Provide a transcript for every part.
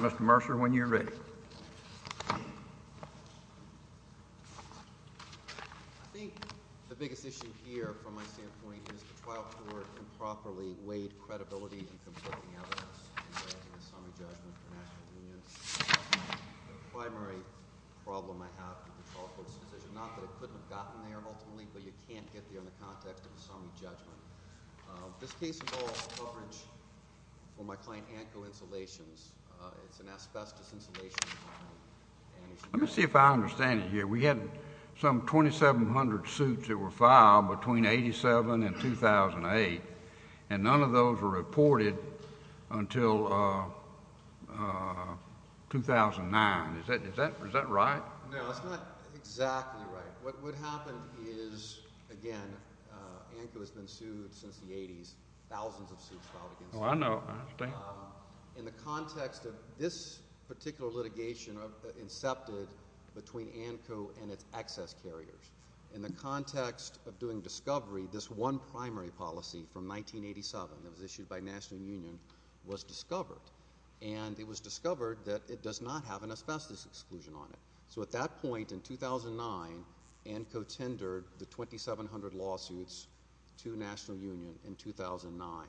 Mr. Mercer, when you're ready. I think the biggest issue here, from my standpoint, is the trial court improperly weighed credibility and conflicting evidence in the summary judgment for national unions. The primary problem I have with the trial court's decision, not that it couldn't have gotten there ultimately, but you can't get there in the context of a summary judgment. This case involves coverage for my client ANCO Insulations. It's an asbestos insulation company. Let me see if I understand it here. We had some 2,700 suits that were filed between 1987 and 2008, and none of those were reported until 2009. Is that right? No, that's not exactly right. What happened is, again, ANCO has been sued since the 80s, thousands of suits filed against it. Oh, I know. I understand. In the context of this particular litigation incepted between ANCO and its excess carriers, in the context of doing discovery, this one primary policy from 1987 that was issued by national union was discovered, and it was discovered that it does not have an asbestos exclusion on it. So at that point in 2009, ANCO tendered the 2,700 lawsuits to national union in 2009.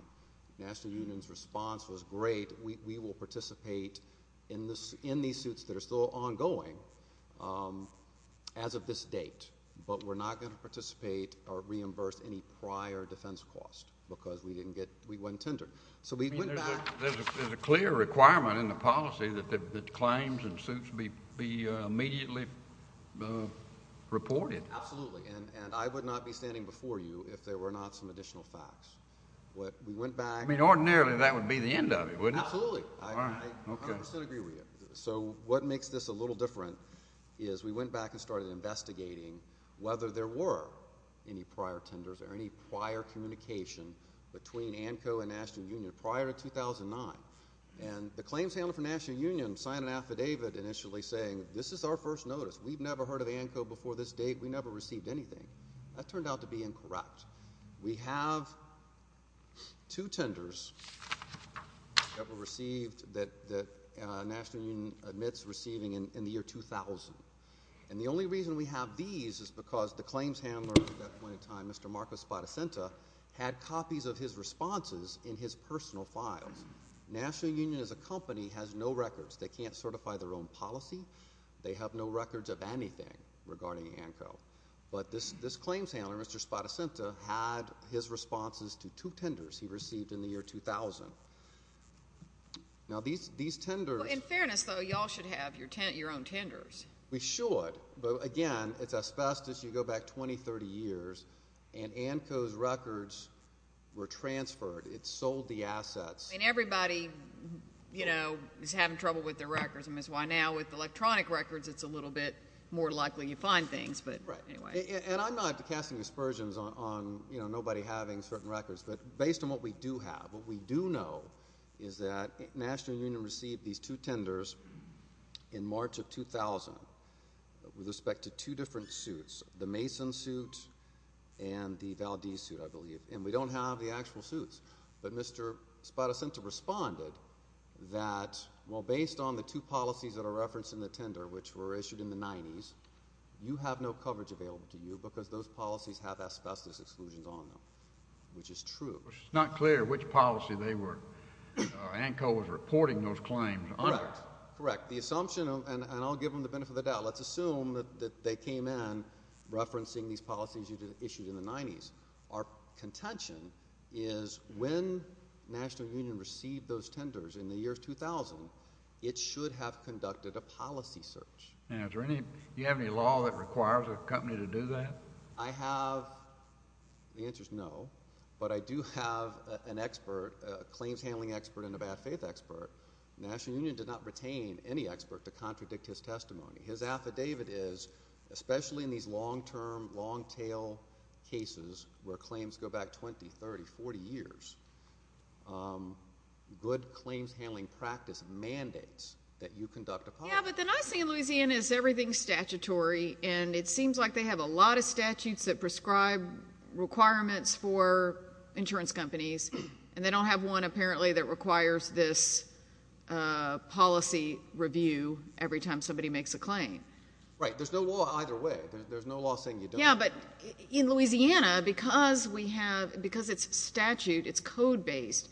National union's response was great. We will participate in these suits that are still ongoing as of this date, but we're not going to participate or reimburse any prior defense cost because we went tender. So we went back. There's a clear requirement in the policy that the claims and suits be immediately reported. Absolutely, and I would not be standing before you if there were not some additional facts. But we went back. I mean, ordinarily that would be the end of it, wouldn't it? Absolutely. All right, okay. I 100% agree with you. So what makes this a little different is we went back and started investigating whether there were any prior tenders or any prior communication between ANCO and national union prior to 2009, and the claims handler for national union signed an affidavit initially saying this is our first notice. We've never heard of ANCO before this date. We never received anything. That turned out to be incorrect. We have two tenders that were received that national union admits receiving in the year 2000, and the only reason we have these is because the claims handler at that point in time, Mr. Marco Spadacenta, had copies of his responses in his personal files. National union as a company has no records. They can't certify their own policy. They have no records of anything regarding ANCO. But this claims handler, Mr. Spadacenta, had his responses to two tenders he received in the year 2000. Now, these tenders. In fairness, though, you all should have your own tenders. We should, but, again, it's asbestos. You go back 20, 30 years, and ANCO's records were transferred. It sold the assets. And everybody, you know, is having trouble with their records. And that's why now with electronic records it's a little bit more likely you find things. But, anyway. And I'm not casting aspersions on, you know, nobody having certain records. But based on what we do have, what we do know is that national union received these two tenders in March of 2000 with respect to two different suits, the Mason suit and the Valdez suit, I believe. And we don't have the actual suits. But Mr. Spadacenta responded that, well, based on the two policies that are referenced in the tender, which were issued in the 90s, you have no coverage available to you because those policies have asbestos exclusions on them, which is true. It's not clear which policy they were. ANCO was reporting those claims. Correct. The assumption, and I'll give them the benefit of the doubt, let's assume that they came in referencing these policies issued in the 90s. Our contention is when national union received those tenders in the year 2000, it should have conducted a policy search. Now, do you have any law that requires a company to do that? I have. The answer is no. But I do have an expert, a claims handling expert and a bad faith expert. National union did not retain any expert to contradict his testimony. His affidavit is, especially in these long-term, long-tail cases where claims go back 20, 30, 40 years, good claims handling practice mandates that you conduct a policy. Yeah, but the nice thing in Louisiana is everything is statutory, and it seems like they have a lot of statutes that prescribe requirements for insurance companies, and they don't have one apparently that requires this policy review every time somebody makes a claim. Right. There's no law either way. There's no law saying you don't. Yeah, but in Louisiana, because we have ‑‑ because it's statute, it's code-based,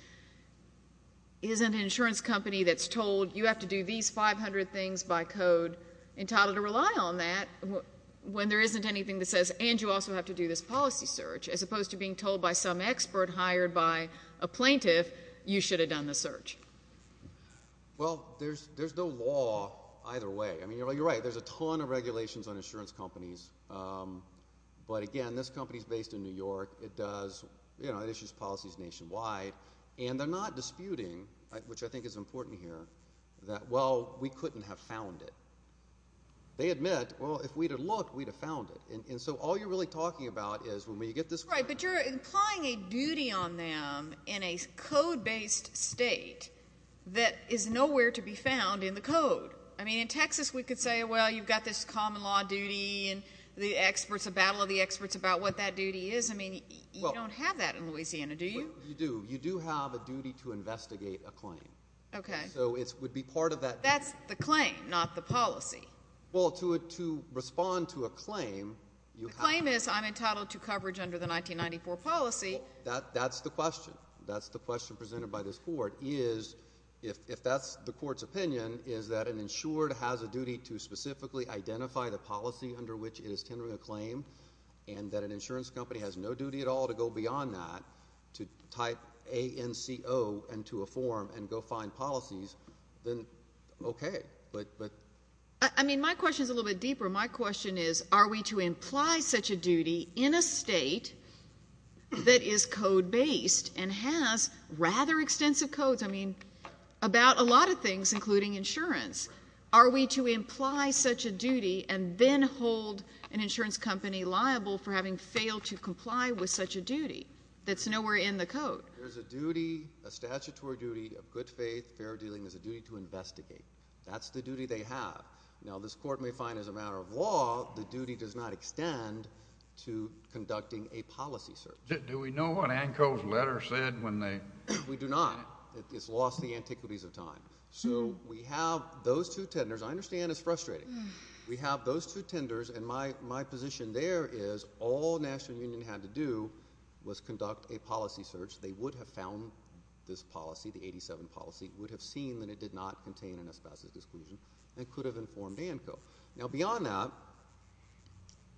isn't an insurance company that's told you have to do these 500 things by code entitled to rely on that when there isn't anything that says, and you also have to do this policy search, as opposed to being told by some expert hired by a plaintiff you should have done the search. Well, there's no law either way. I mean, you're right. There's a ton of regulations on insurance companies, but, again, this company is based in New York. It does ‑‑ you know, it issues policies nationwide, and they're not disputing, which I think is important here, that, well, we couldn't have found it. They admit, well, if we'd have looked, we'd have found it, and so all you're really talking about is when we get this claim. Right, but you're implying a duty on them in a code-based state that is nowhere to be found in the code. I mean, in Texas we could say, well, you've got this common law duty and the battle of the experts about what that duty is. I mean, you don't have that in Louisiana, do you? You do. You do have a duty to investigate a claim. Okay. So it would be part of that. That's the claim, not the policy. Well, to respond to a claim, you have to ‑‑ The claim is I'm entitled to coverage under the 1994 policy. Well, that's the question. That's the question presented by this court is, if that's the court's opinion, is that an insured has a duty to specifically identify the policy under which it is tendering a claim and that an insurance company has no duty at all to go beyond that to type ANCO into a form and go find policies, then okay, but ‑‑ I mean, my question is a little bit deeper. My question is, are we to imply such a duty in a state that is code-based and has rather extensive codes, I mean, about a lot of things, including insurance? Are we to imply such a duty and then hold an insurance company liable for having failed to comply with such a duty that's nowhere in the code? There's a duty, a statutory duty of good faith, fair dealing. There's a duty to investigate. That's the duty they have. Now, this court may find as a matter of law the duty does not extend to conducting a policy search. Do we know what ANCO's letter said when they ‑‑ We do not. It's lost the antiquities of time. So we have those two tenders. I understand it's frustrating. We have those two tenders, and my position there is all National Union had to do was conduct a policy search. They would have found this policy, the 87 policy, would have seen that it did not contain an asbestos disclosure and could have informed ANCO. Now, beyond that ‑‑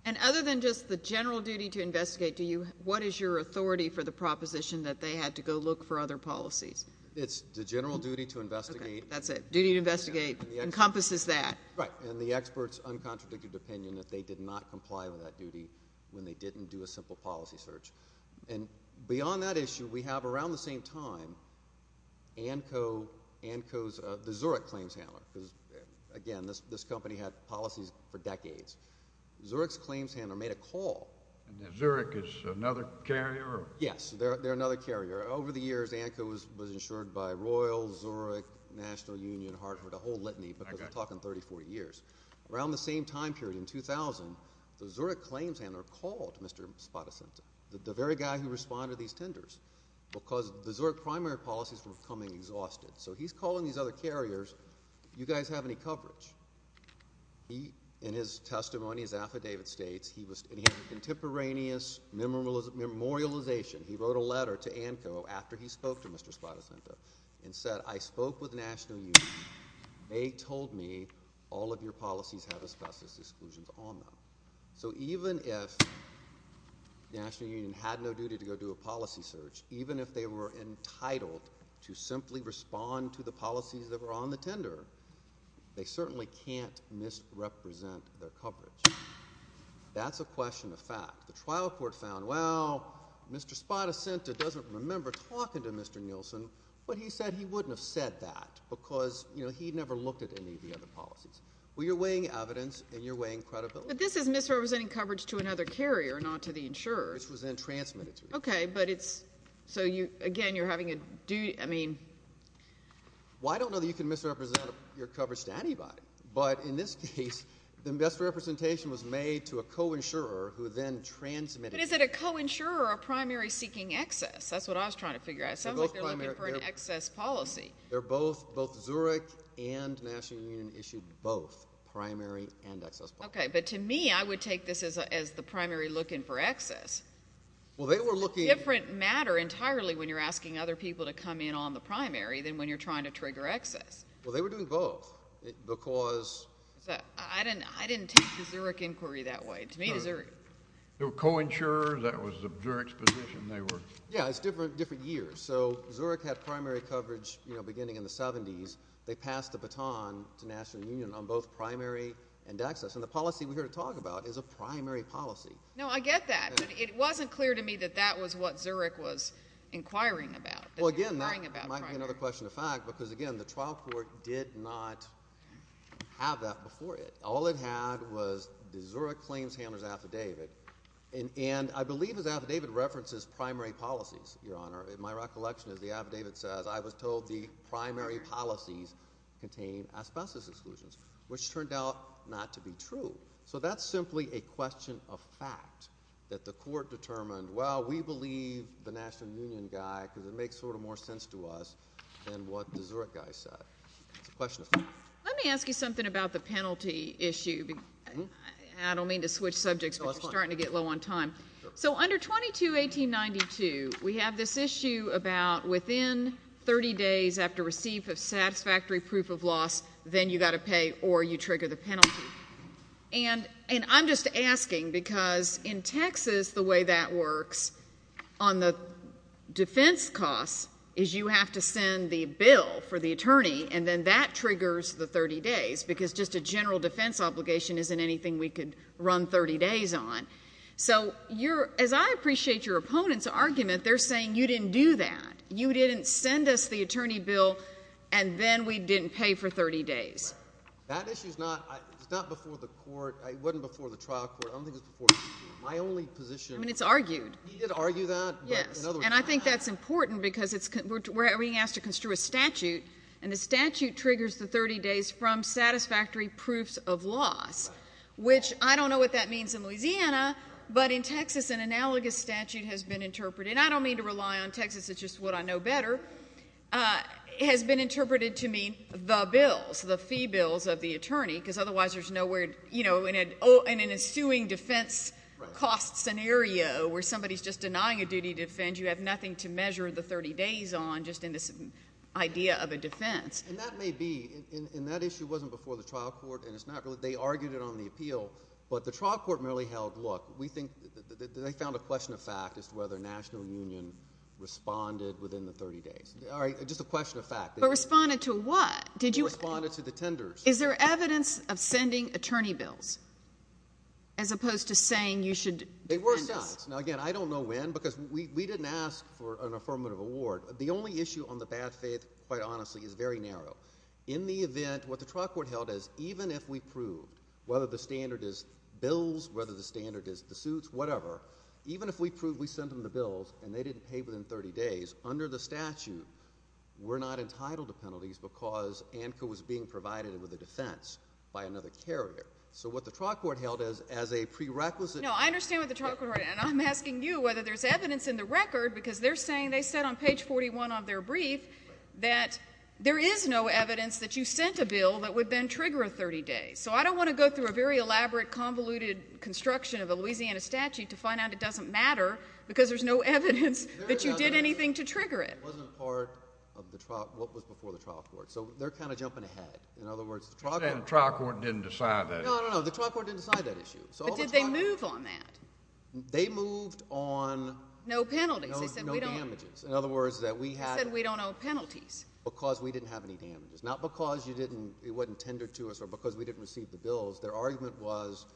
And other than just the general duty to investigate, what is your authority for the proposition that they had to go look for other policies? It's the general duty to investigate. Okay, that's it. Duty to investigate encompasses that. Right, and the expert's uncontradicted opinion that they did not comply with that duty when they didn't do a simple policy search. And beyond that issue, we have around the same time ANCO's ‑‑ the Zurich claims handler, because, again, this company had policies for decades. Zurich's claims handler made a call. Zurich is another carrier? Yes, they're another carrier. Over the years, ANCO was insured by Royal, Zurich, National Union, Hartford, a whole litany, because we're talking 34 years. Around the same time period, in 2000, the Zurich claims handler called Mr. Spadacento, the very guy who responded to these tenders, because the Zurich primary policies were becoming exhausted. So he's calling these other carriers. You guys have any coverage? He, in his testimony, his affidavit states he was ‑‑ And he had a contemporaneous memorialization. He wrote a letter to ANCO after he spoke to Mr. Spadacento and said, I spoke with National Union. They told me all of your policies have exclusions on them. So even if National Union had no duty to go do a policy search, even if they were entitled to simply respond to the policies that were on the tender, they certainly can't misrepresent their coverage. That's a question of fact. The trial court found, well, Mr. Spadacento doesn't remember talking to Mr. Nielsen, but he said he wouldn't have said that because, you know, he never looked at any of the other policies. Well, you're weighing evidence and you're weighing credibility. But this is misrepresenting coverage to another carrier, not to the insurer. Which was then transmitted to you. Okay, but it's ‑‑ so, again, you're having a ‑‑ I mean ‑‑ Well, I don't know that you can misrepresent your coverage to anybody, but in this case the misrepresentation was made to a co‑insurer who then transmitted it. But is it a co‑insurer or a primary seeking excess? That's what I was trying to figure out. It sounds like they're looking for an excess policy. They're both ‑‑ both Zurich and the National Union issued both primary and excess policies. Okay, but to me I would take this as the primary looking for excess. Well, they were looking ‑‑ It's a different matter entirely when you're asking other people to come in on the primary than when you're trying to trigger excess. Well, they were doing both because ‑‑ I didn't take the Zurich inquiry that way. To me the Zurich ‑‑ They were co‑insurers. That was Zurich's position. Yeah, it's different years. So Zurich had primary coverage, you know, beginning in the 70s. They passed the baton to National Union on both primary and excess. And the policy we're here to talk about is a primary policy. No, I get that. It wasn't clear to me that that was what Zurich was inquiring about. Well, again, that might be another question of fact because, again, the trial court did not have that before it. All it had was the Zurich claims handler's affidavit. And I believe his affidavit references primary policies, Your Honor. In my recollection, as the affidavit says, I was told the primary policies contained asbestos exclusions, which turned out not to be true. So that's simply a question of fact that the court determined, well, we believe the National Union guy because it makes sort of more sense to us than what the Zurich guy said. It's a question of fact. Let me ask you something about the penalty issue. I don't mean to switch subjects, but you're starting to get low on time. So under 22-1892, we have this issue about within 30 days after receipt of satisfactory proof of loss, then you've got to pay or you trigger the penalty. And I'm just asking because in Texas the way that works on the defense costs is you have to send the bill for the attorney, and then that triggers the 30 days because just a general defense obligation isn't anything we could run 30 days on. So as I appreciate your opponent's argument, they're saying you didn't do that. You didn't send us the attorney bill, and then we didn't pay for 30 days. That issue is not before the court. It wasn't before the trial court. I don't think it was before the court. My only position is he did argue that. Yes, and I think that's important because we're being asked to construe a statute, and the statute triggers the 30 days from satisfactory proofs of loss, which I don't know what that means in Louisiana, but in Texas an analogous statute has been interpreted. I don't mean to rely on Texas. It's just what I know better. It has been interpreted to mean the bills, the fee bills of the attorney, because otherwise there's nowhere in an ensuing defense cost scenario where somebody's just denying a duty to defend. You have nothing to measure the 30 days on just in this idea of a defense. And that may be, and that issue wasn't before the trial court, and they argued it on the appeal, but the trial court merely held, look, we think they found a question of fact as to whether National Union responded within the 30 days. All right, just a question of fact. But responded to what? Responded to the tenders. Is there evidence of sending attorney bills as opposed to saying you should defend us? There were signs. Now, again, I don't know when because we didn't ask for an affirmative award. The only issue on the bad faith, quite honestly, is very narrow. In the event, what the trial court held is even if we proved, whether the standard is bills, whether the standard is the suits, whatever, even if we proved we sent them the bills and they didn't pay within 30 days, under the statute we're not entitled to penalties because ANCA was being provided with a defense by another carrier. So what the trial court held is as a prerequisite. No, I understand what the trial court held, and I'm asking you whether there's evidence in the record because they're saying they said on page 41 of their brief that there is no evidence that you sent a bill that would then trigger a 30-day. So I don't want to go through a very elaborate, convoluted construction of a Louisiana statute to find out it doesn't matter because there's no evidence that you did anything to trigger it. It wasn't part of what was before the trial court. So they're kind of jumping ahead. In other words, the trial court didn't decide that. No, no, no, the trial court didn't decide that issue. But did they move on that? They moved on no damages. No penalties. They said we don't owe penalties. Because we didn't have any damages. Not because it wasn't tendered to us or because we didn't receive the bills. Their argument was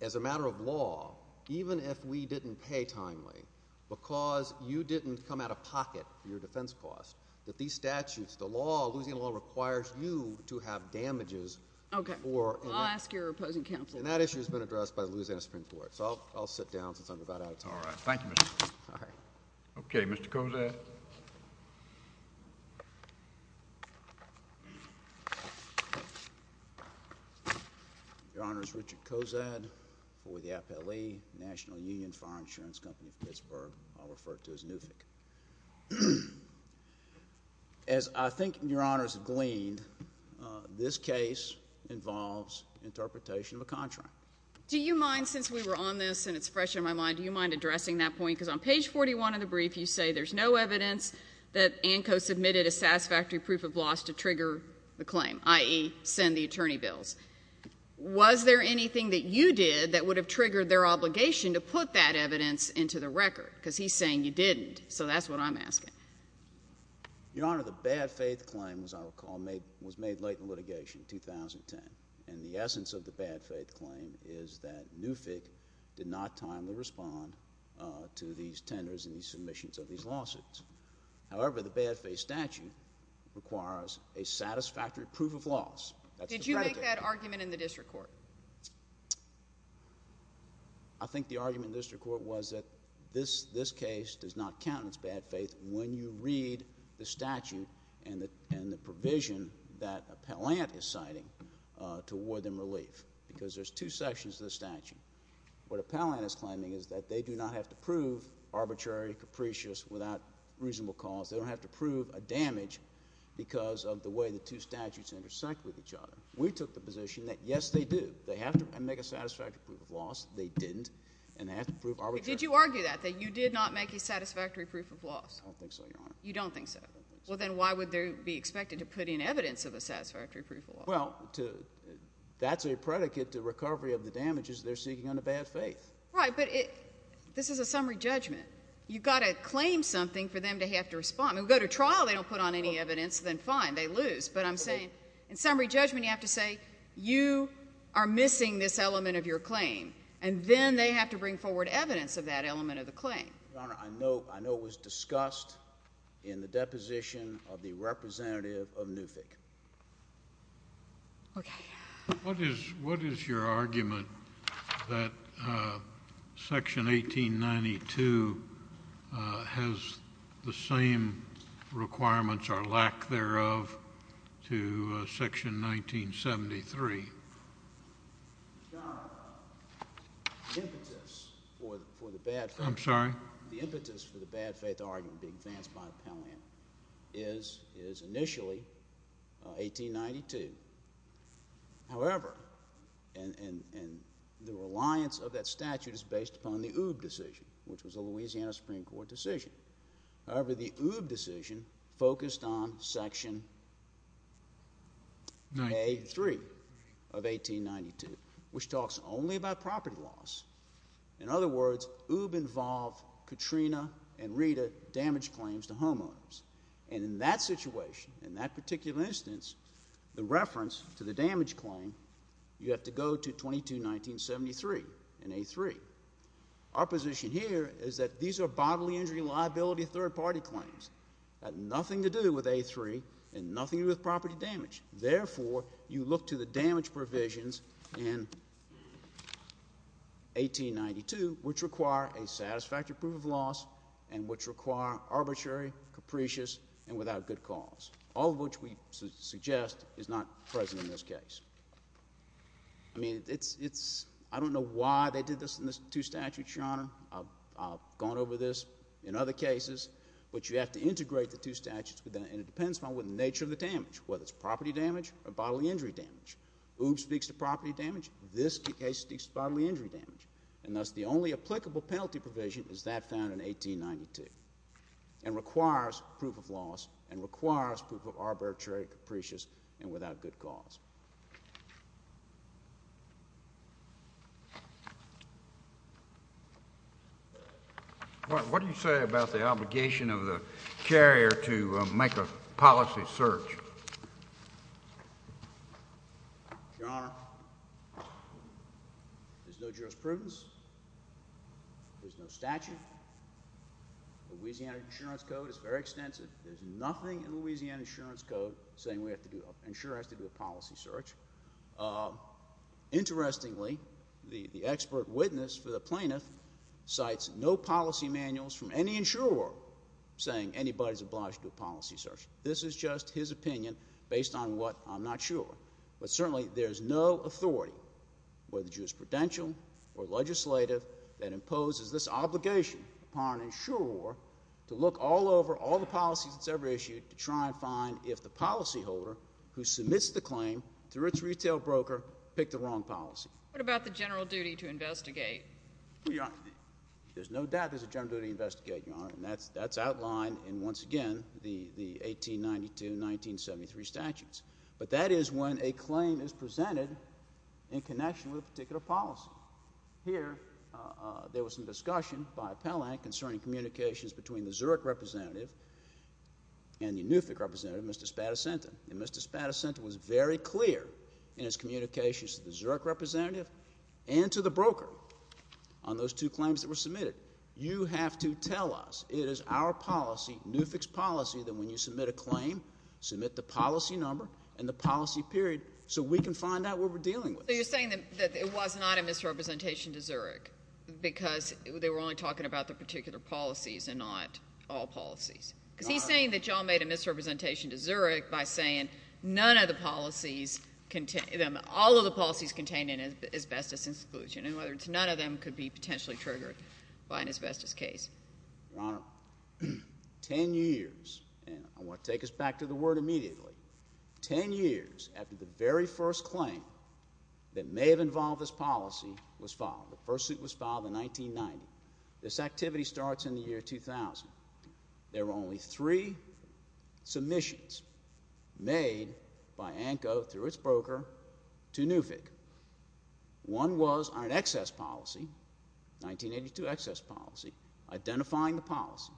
as a matter of law, even if we didn't pay timely because you didn't come out of pocket for your defense cost, that these statutes, the law, Louisiana law requires you to have damages. Okay. Well, I'll ask your opposing counsel. And that issue has been addressed by the Louisiana Supreme Court. So I'll sit down since I'm about out of time. All right. Thank you, Mr. Cozad. Okay. Mr. Cozad. Your Honor, it's Richard Cozad for the APLE, National Union Fire Insurance Company of Pittsburgh. I'll refer to it as NUFIC. As I think Your Honors have gleaned, this case involves interpretation of a contract. Do you mind, since we were on this and it's fresh in my mind, do you mind addressing that point? Because on page 41 of the brief you say there's no evidence that ANCO submitted a satisfactory proof of loss to trigger the claim, i.e. send the attorney bills. Was there anything that you did that would have triggered their obligation to put that evidence into the record? Because he's saying you didn't. So that's what I'm asking. Your Honor, the bad faith claim, as I recall, was made late in litigation, 2010. And the essence of the bad faith claim is that NUFIC did not timely respond to these tenders and these submissions of these lawsuits. However, the bad faith statute requires a satisfactory proof of loss. Did you make that argument in the district court? I think the argument in the district court was that this case does not count as bad faith when you read the statute and the provision that Appellant is citing to award them relief, because there's two sections of the statute. What Appellant is claiming is that they do not have to prove arbitrary, capricious, without reasonable cause. They don't have to prove a damage because of the way the two statutes intersect with each other. We took the position that, yes, they do. They have to make a satisfactory proof of loss. They didn't. And they have to prove arbitrary. Did you argue that, that you did not make a satisfactory proof of loss? I don't think so, Your Honor. You don't think so? I don't think so. Well, then why would there be expected to put in evidence of a satisfactory proof of loss? Well, that's a predicate to recovery of the damages they're seeking under bad faith. Right, but this is a summary judgment. You've got to claim something for them to have to respond. If they go to trial and they don't put on any evidence, then fine, they lose. But I'm saying in summary judgment you have to say you are missing this element of your claim, and then they have to bring forward evidence of that element of the claim. Your Honor, I know it was discussed in the deposition of the representative of NUFIC. Okay. What is your argument that Section 1892 has the same requirements or lack thereof to Section 1973? Your Honor, the impetus for the bad faith argument being advanced by Appellant is initially 1892. However, and the reliance of that statute is based upon the OOB decision, which was a Louisiana Supreme Court decision. However, the OOB decision focused on Section A3 of 1892, which talks only about property loss. In other words, OOB involved Katrina and Rita damage claims to homeowners. And in that situation, in that particular instance, the reference to the damage claim, you have to go to 22-1973 in A3. Our position here is that these are bodily injury liability third-party claims. They have nothing to do with A3 and nothing to do with property damage. Therefore, you look to the damage provisions in 1892, which require a satisfactory proof of loss and which require arbitrary, capricious, and without good cause, all of which we suggest is not present in this case. I mean, I don't know why they did this in the two statutes, Your Honor. I've gone over this in other cases. But you have to integrate the two statutes, and it depends upon the nature of the damage, whether it's property damage or bodily injury damage. OOB speaks to property damage. This case speaks to bodily injury damage. And thus, the only applicable penalty provision is that found in 1892 and requires proof of loss and requires proof of arbitrary, capricious, and without good cause. What do you say about the obligation of the carrier to make a policy search? Your Honor, there's no jurisprudence. There's no statute. Louisiana Insurance Code is very extensive. There's nothing in Louisiana Insurance Code saying an insurer has to do a policy search. Interestingly, the expert witness for the plaintiff cites no policy manuals from any insurer saying anybody is obliged to do a policy search. This is just his opinion based on what I'm not sure. But certainly, there's no authority, whether jurisprudential or legislative, that imposes this obligation upon an insurer to look all over all the policies it's ever issued to try and find if the policyholder who submits the claim through its retail broker picked the wrong policy. What about the general duty to investigate? There's no doubt there's a general duty to investigate, Your Honor. And that's outlined in, once again, the 1892 and 1973 statutes. But that is when a claim is presented in connection with a particular policy. Here, there was some discussion by Pelland concerning communications between the Zurich representative and the NUFIC representative, Mr. Spadacenta. And Mr. Spadacenta was very clear in his communications to the Zurich representative and to the broker on those two claims that were submitted. You have to tell us it is our policy, NUFIC's policy, that when you submit a claim, submit the policy number and the policy period so we can find out what we're dealing with. So you're saying that it was not a misrepresentation to Zurich because they were only talking about the particular policies and not all policies. Because he's saying that you all made a misrepresentation to Zurich by saying none of the policies – all of the policies contained in it asbestos exclusion. In other words, none of them could be potentially triggered by an asbestos case. Your Honor, 10 years – and I want to take us back to the word immediately – 10 years after the very first claim that may have involved this policy was filed. The first suit was filed in 1990. This activity starts in the year 2000. There were only three submissions made by ANCO through its broker to NUFIC. One was on an excess policy, 1982 excess policy, identifying the policy.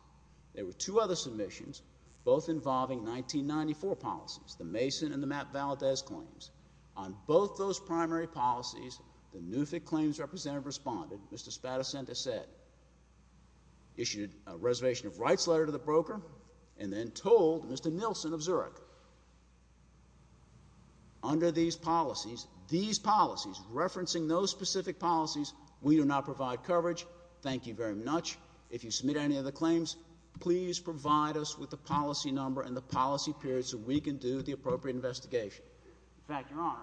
There were two other submissions, both involving 1994 policies, the Mason and the Matt Valadez claims. On both those primary policies, the NUFIC claims representative responded, Mr. Spadacenta said, issued a reservation of rights letter to the broker, and then told Mr. Nilsen of Zurich. Under these policies, these policies, referencing those specific policies, we do not provide coverage. Thank you very much. If you submit any of the claims, please provide us with the policy number and the policy period so we can do the appropriate investigation. In fact, Your Honor,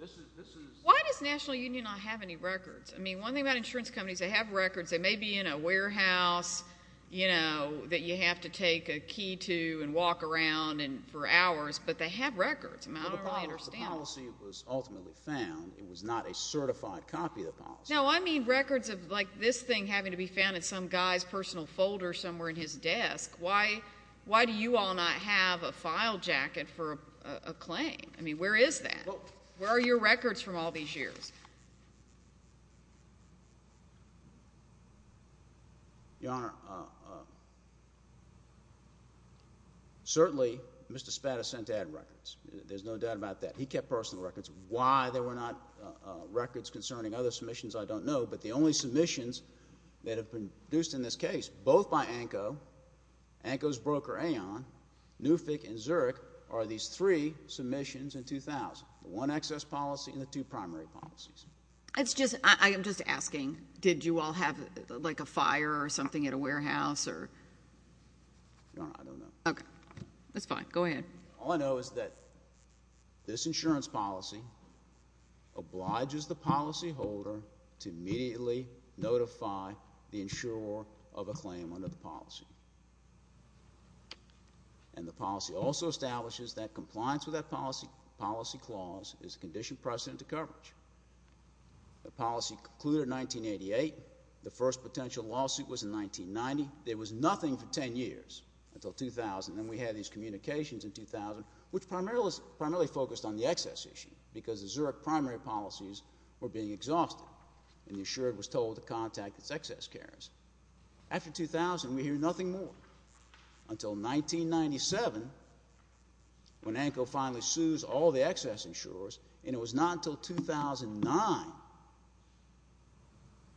this is – Why does National Union not have any records? I mean, one thing about insurance companies, they have records. They may be in a warehouse that you have to take a key to and walk around for hours, but they have records. I don't really understand that. The policy was ultimately found. It was not a certified copy of the policy. No, I mean records of like this thing having to be found in some guy's personal folder somewhere in his desk. Why do you all not have a file jacket for a claim? I mean, where is that? Where are your records from all these years? Your Honor, certainly Mr. Spada sent ad records. There's no doubt about that. He kept personal records. Why there were not records concerning other submissions I don't know, but the only submissions that have been produced in this case, both by ANCO, ANCO's broker AON, NUFIC, and Zurich are these three submissions in 2000, the one excess policy and the two primary policies. I am just asking, did you all have like a fire or something at a warehouse or – Your Honor, I don't know. Okay. That's fine. Go ahead. All I know is that this insurance policy obliges the policyholder to immediately notify the insurer of a claim under the policy. And the policy also establishes that compliance with that policy clause is a conditioned precedent to coverage. The policy concluded in 1988. The first potential lawsuit was in 1990. There was nothing for 10 years until 2000. Then we had these communications in 2000, which primarily focused on the excess issue because the Zurich primary policies were being exhausted, and the insurer was told to contact its excess carers. After 2000, we hear nothing more until 1997 when ANCO finally sues all the excess insurers, and it was not until 2009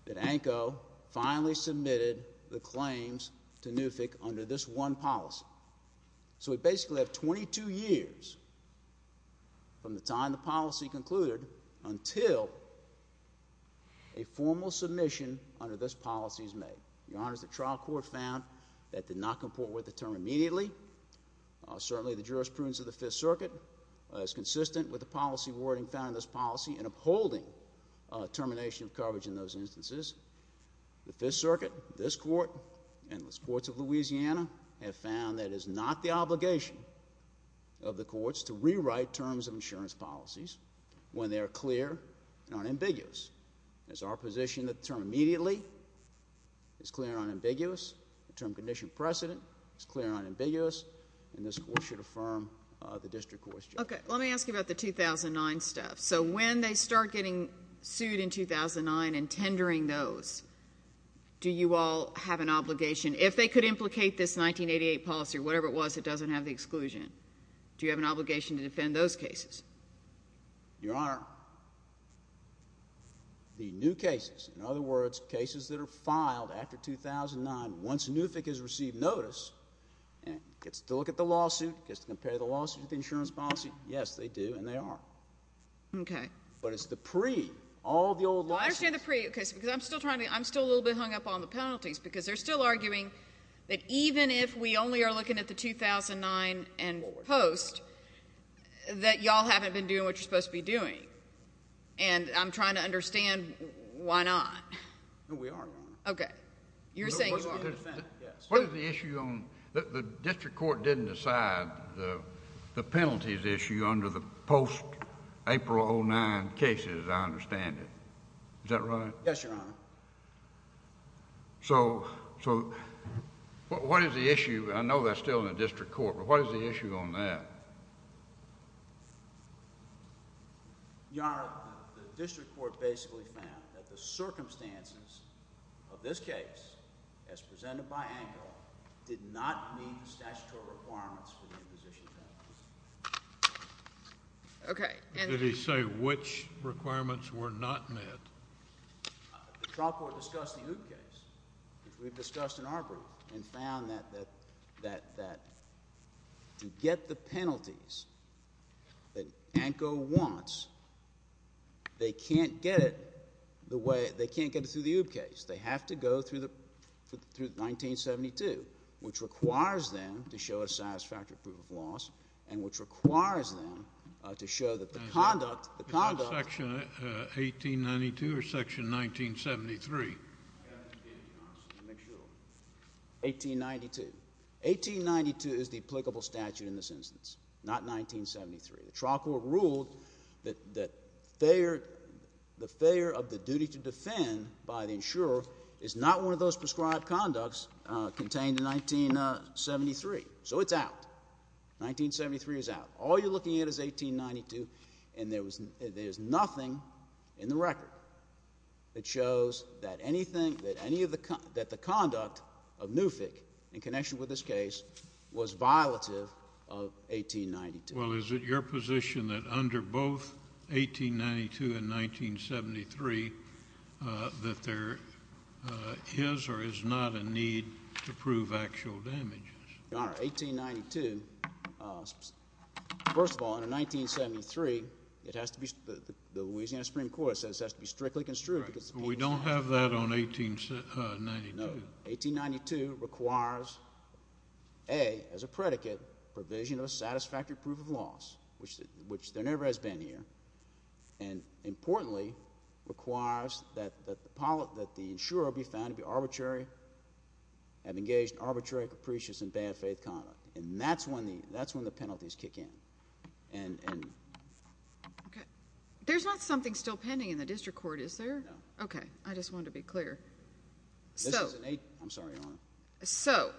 that ANCO finally submitted the claims to NUFIC under this one policy. So we basically have 22 years from the time the policy concluded until a formal submission under this policy is made. Your Honor, the trial court found that did not comport with the term immediately. Certainly the jurisprudence of the Fifth Circuit is consistent with the policy wording found in this policy and upholding termination of coverage in those instances. The Fifth Circuit, this court, and the courts of Louisiana have found that it is not the obligation of the courts to rewrite terms of insurance policies when they are clear and unambiguous. It is our position that the term immediately is clear and unambiguous. The term condition precedent is clear and unambiguous, and this court should affirm the district court's judgment. Okay. Let me ask you about the 2009 stuff. So when they start getting sued in 2009 and tendering those, do you all have an obligation? If they could implicate this 1988 policy, whatever it was, it doesn't have the exclusion. Do you have an obligation to defend those cases? Your Honor, the new cases, in other words, cases that are filed after 2009, once NUFIC has received notice and gets to look at the lawsuit, gets to compare the lawsuit with the insurance policy, yes, they do and they are. Okay. But it's the pre, all the old lawsuits. Well, I understand the pre, okay, because I'm still a little bit hung up on the penalties because they're still arguing that even if we only are looking at the 2009 and post, that you all haven't been doing what you're supposed to be doing. And I'm trying to understand why not. No, we are, Your Honor. Okay. You're saying you are. What is the issue on, the district court didn't decide the penalties issue under the post-April 2009 cases, I understand it. Is that right? Yes, Your Honor. So, what is the issue, I know that's still in the district court, but what is the issue on that? Your Honor, the district court basically found that the circumstances of this case, as presented by Engle, did not meet the statutory requirements for the imposition penalties. Okay. Did he say which requirements were not met? The trial court discussed the OOB case, which we've discussed in our brief, and found that to get the penalties that Engle wants, they can't get it the way, they can't get it through the OOB case. They have to go through 1972, which requires them to show a satisfactory proof of loss, and which requires them to show that the conduct, the conduct. Section 1892 or section 1973? 1892. 1892 is the applicable statute in this instance, not 1973. The trial court ruled that the failure of the duty to defend by the insurer is not one of those prescribed conducts contained in 1973. So it's out. 1973 is out. All you're looking at is 1892, and there's nothing in the record that shows that anything, that any of the, that the conduct of Newfick in connection with this case was violative of 1892. Well, is it your position that under both 1892 and 1973 that there is or is not a need to prove actual damages? Your Honor, 1892, first of all, under 1973, it has to be, the Louisiana Supreme Court says it has to be strictly construed. We don't have that on 1892. No. 1892 requires, A, as a predicate, provision of a satisfactory proof of loss, which there never has been here, and importantly requires that the insurer be found to be arbitrary, have engaged in arbitrary, capricious, and bad-faith conduct. And that's when the penalties kick in. Okay. There's not something still pending in the district court, is there? No. Okay. I just wanted to be clear. I'm sorry, Your Honor. So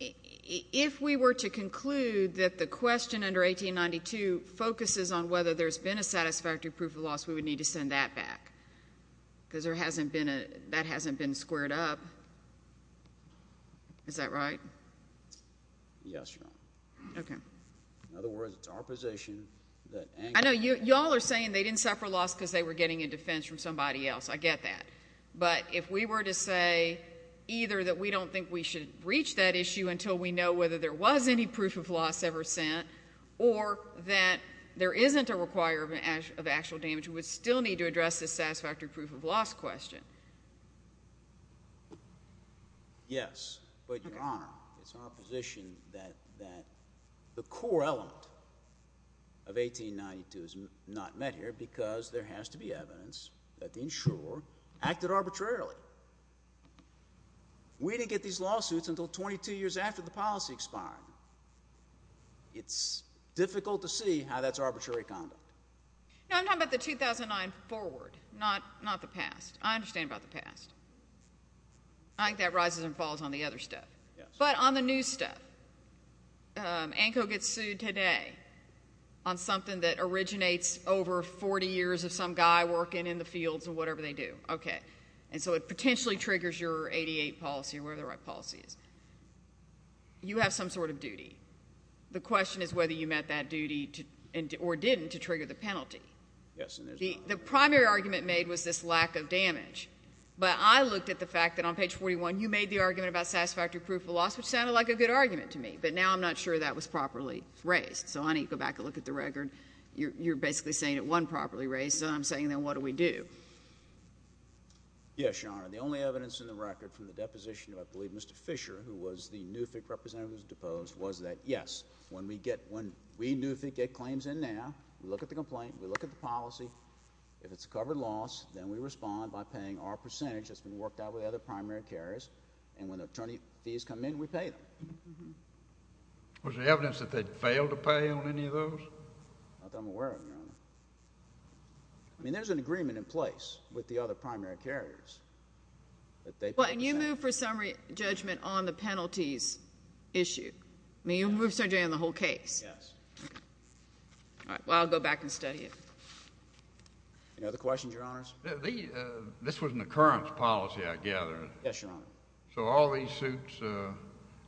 if we were to conclude that the question under 1892 focuses on whether there's been a satisfactory proof of loss, we would need to send that back? Because that hasn't been squared up. Is that right? Yes, Your Honor. Okay. In other words, it's our position that anger. I know. You all are saying they didn't suffer loss because they were getting a defense from somebody else. I get that. But if we were to say either that we don't think we should reach that issue until we know whether there was any proof of loss ever sent or that there isn't a requirement of actual damage, we would still need to address the satisfactory proof of loss question. Yes. But, Your Honor, it's our position that the core element of 1892 is not met here because there has to be evidence that the insurer acted arbitrarily. We didn't get these lawsuits until 22 years after the policy expired. It's difficult to see how that's arbitrary conduct. No, I'm talking about the 2009 forward, not the past. I understand about the past. I think that rises and falls on the other stuff. Yes. But on the new stuff, ANCO gets sued today on something that originates over 40 years of some guy working in the fields or whatever they do. Okay. And so it potentially triggers your 88 policy or whatever the right policy is. You have some sort of duty. The question is whether you met that duty or didn't to trigger the penalty. Yes. The primary argument made was this lack of damage. But I looked at the fact that on page 41 you made the argument about satisfactory proof of loss, which sounded like a good argument to me. But now I'm not sure that was properly raised. So, honey, go back and look at the record. You're basically saying it wasn't properly raised. So I'm saying, then, what do we do? Yes, Your Honor. The only evidence in the record from the deposition of, I believe, Mr. Fisher, who was the NUFIC representative who was deposed, was that, yes, when we NUFIC get claims in now, we look at the complaint, we look at the policy. If it's a covered loss, then we respond by paying our percentage that's been worked out with other primary carriers. And when the attorney fees come in, we pay them. Was there evidence that they'd failed to pay on any of those? Not that I'm aware of, Your Honor. I mean, there's an agreement in place with the other primary carriers. Well, can you move for summary judgment on the penalties issue? I mean, you can move for summary judgment on the whole case. Yes. All right. Well, I'll go back and study it. Any other questions, Your Honors? This was an occurrence policy, I gather. Yes, Your Honor. So all these suits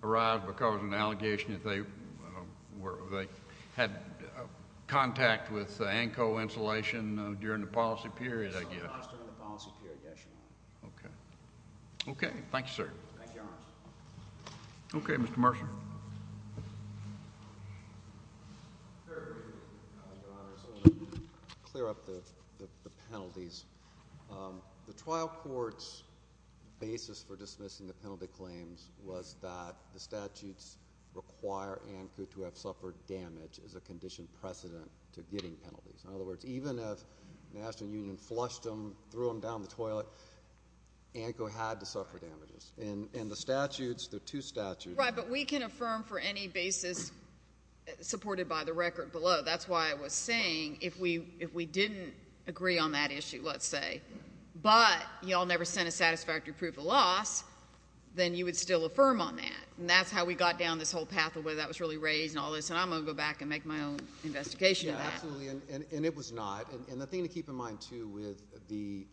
arise because of an allegation that they had contact with ANCO insulation during the policy period, I guess. It was during the policy period, yes, Your Honor. Okay. Okay. Thank you, sir. Thank you, Your Honors. Okay, Mr. Mercer. Very briefly, Your Honors, I want to clear up the penalties. The trial court's basis for dismissing the penalty claims was that the statutes require ANCO to have suffered damage as a condition precedent to getting penalties. In other words, even if the National Union flushed them, threw them down the toilet, ANCO had to suffer damages. And the statutes, there are two statutes. Right, but we can affirm for any basis supported by the record below. That's why I was saying if we didn't agree on that issue, let's say, but you all never sent a satisfactory proof of loss, then you would still affirm on that. And that's how we got down this whole path of whether that was really raised and all this. And I'm going to go back and make my own investigation of that. Yeah, absolutely. And it was not. And the thing to keep in mind, too, with the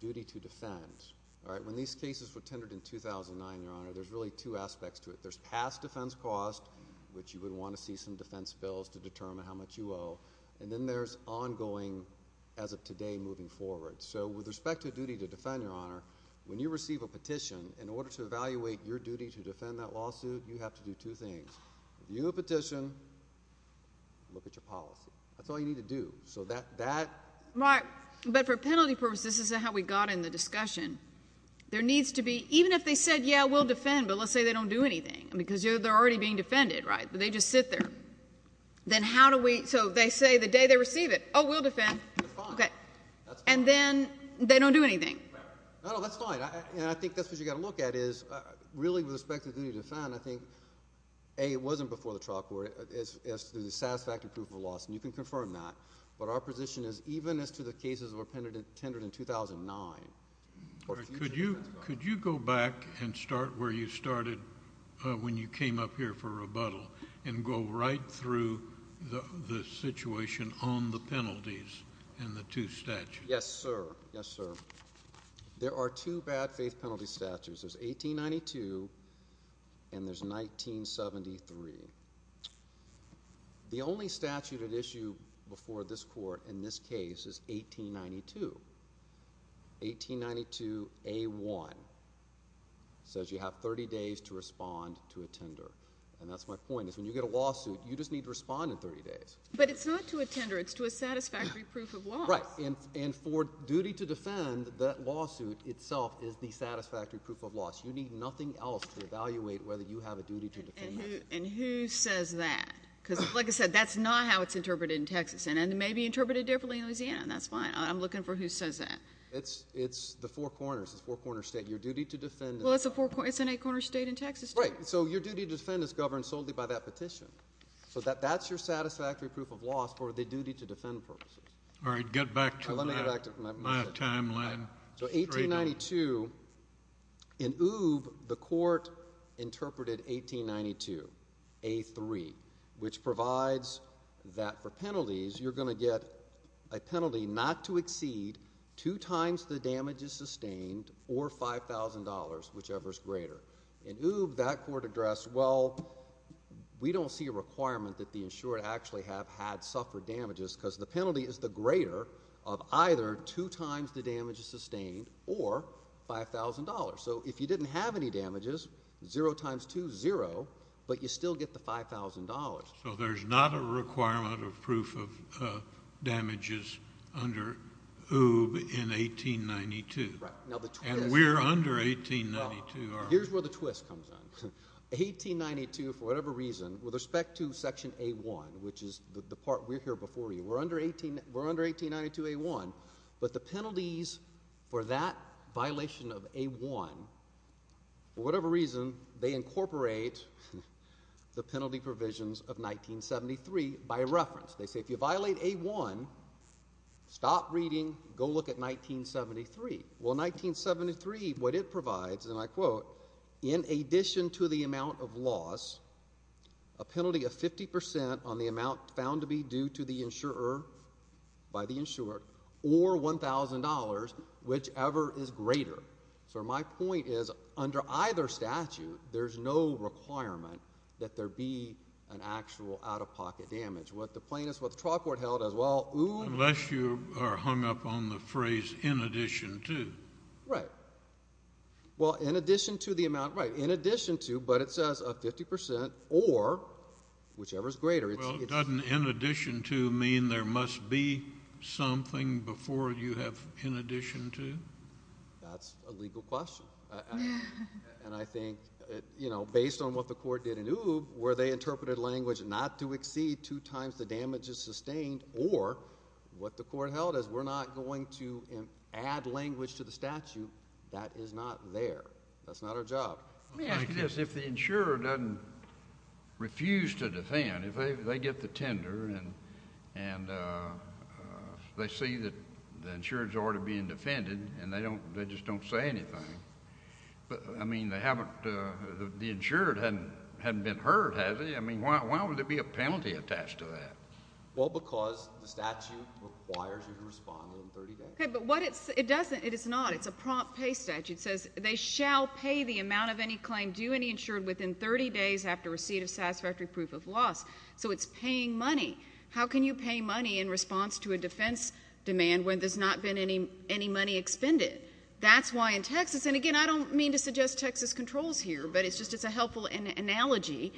duty to defend, all right, when these cases were tendered in 2009, Your Honor, there's really two aspects to it. There's past defense cost, which you would want to see some defense bills to determine how much you owe. And then there's ongoing, as of today, moving forward. So with respect to duty to defend, Your Honor, when you receive a petition, in order to evaluate your duty to defend that lawsuit, you have to do two things. If you have a petition, look at your policy. That's all you need to do. So that. But for penalty purposes, this isn't how we got in the discussion. There needs to be, even if they said, yeah, we'll defend, but let's say they don't do anything, because they're already being defended, right? They just sit there. Then how do we, so they say the day they receive it, oh, we'll defend. Okay. And then they don't do anything. No, that's fine. And I think that's what you've got to look at is, really, with respect to duty to defend, I think, A, it wasn't before the trial court as to the satisfactory proof of loss. And you can confirm that. But our position is, even as to the cases that were tendered in 2009. Could you go back and start where you started when you came up here for rebuttal and go right through the situation on the penalties and the two statutes? Yes, sir. Yes, sir. There are two bad faith penalty statutes. There's 1892 and there's 1973. The only statute at issue before this court in this case is 1892. 1892A1 says you have 30 days to respond to a tender. And that's my point, is when you get a lawsuit, you just need to respond in 30 days. But it's not to a tender. It's to a satisfactory proof of loss. Right. And for duty to defend, that lawsuit itself is the satisfactory proof of loss. You need nothing else to evaluate whether you have a duty to defend that. And who says that? Because, like I said, that's not how it's interpreted in Texas. And it may be interpreted differently in Louisiana. And that's fine. I'm looking for who says that. It's the four corners. It's a four-corner state. Your duty to defend. Well, it's an eight-corner state in Texas. Right. So your duty to defend is governed solely by that petition. So that's your satisfactory proof of loss for the duty to defend purposes. All right. Get back to my timeline. So 1892, in OOBE, the court interpreted 1892, A3, which provides that for penalties, you're going to get a penalty not to exceed two times the damages sustained or $5,000, whichever is greater. In OOBE, that court addressed, well, we don't see a requirement that the insured actually have had suffered damages because the penalty is the greater of either two times the damages sustained or $5,000. So if you didn't have any damages, zero times two is zero, but you still get the $5,000. So there's not a requirement of proof of damages under OOBE in 1892. Right. And we're under 1892. Here's where the twist comes in. 1892, for whatever reason, with respect to Section A1, which is the part we're here before you, we're under 1892 A1, but the penalties for that violation of A1, for whatever reason, they incorporate the penalty provisions of 1973 by reference. They say if you violate A1, stop reading, go look at 1973. Well, 1973, what it provides, and I quote, in addition to the amount of loss, a penalty of 50% on the amount found to be due to the insurer, by the insurer, or $1,000, whichever is greater. So my point is under either statute, there's no requirement that there be an actual out-of-pocket damage. What the plaintiffs, what the trial court held as well, OOBE. Unless you are hung up on the phrase in addition to. Right. Well, in addition to the amount, right, in addition to, but it says a 50% or, whichever is greater. Well, doesn't in addition to mean there must be something before you have in addition to? That's a legal question. And I think, you know, based on what the court did in OOBE, where they interpreted language not to exceed two times the damage is sustained, or what the court held as we're not going to add language to the statute, that is not there. That's not our job. Let me ask you this. If the insurer doesn't refuse to defend, if they get the tender and they see that the insurer is already being defended and they just don't say anything, I mean, they haven't, the insurer hasn't been heard, has he? I mean, why would there be a penalty attached to that? Well, because the statute requires you to respond within 30 days. Okay, but what it doesn't, it is not. It's a prompt pay statute. It says they shall pay the amount of any claim due and insured within 30 days after receipt of satisfactory proof of loss. So it's paying money. How can you pay money in response to a defense demand when there's not been any money expended? That's why in Texas, and again, I don't mean to suggest Texas controls here, but it's just a helpful analogy.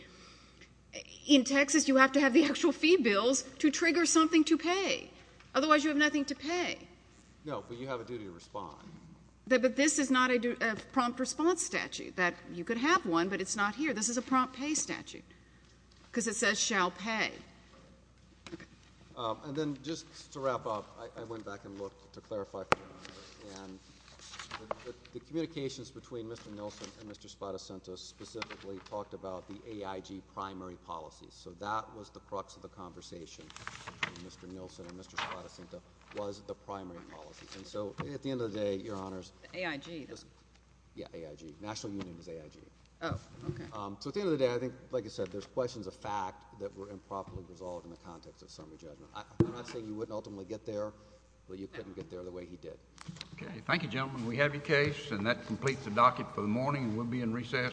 In Texas, you have to have the actual fee bills to trigger something to pay. Otherwise, you have nothing to pay. No, but you have a duty to respond. But this is not a prompt response statute. You could have one, but it's not here. This is a prompt pay statute because it says shall pay. Okay. And then just to wrap up, I went back and looked to clarify. And the communications between Mr. Nilsen and Mr. Spadacento specifically talked about the AIG primary policy. So that was the crux of the conversation between Mr. Nilsen and Mr. Spadacento was the primary policy. And so at the end of the day, Your Honors. AIG. Yeah, AIG. National Union is AIG. Oh, okay. So at the end of the day, I think, like you said, there's questions of fact that were improperly resolved in the context of summary judgment. I'm not saying you wouldn't ultimately get there, but you couldn't get there the way he did. Okay. Thank you, gentlemen. We have your case, and that completes the docket for the morning. We'll be in recess.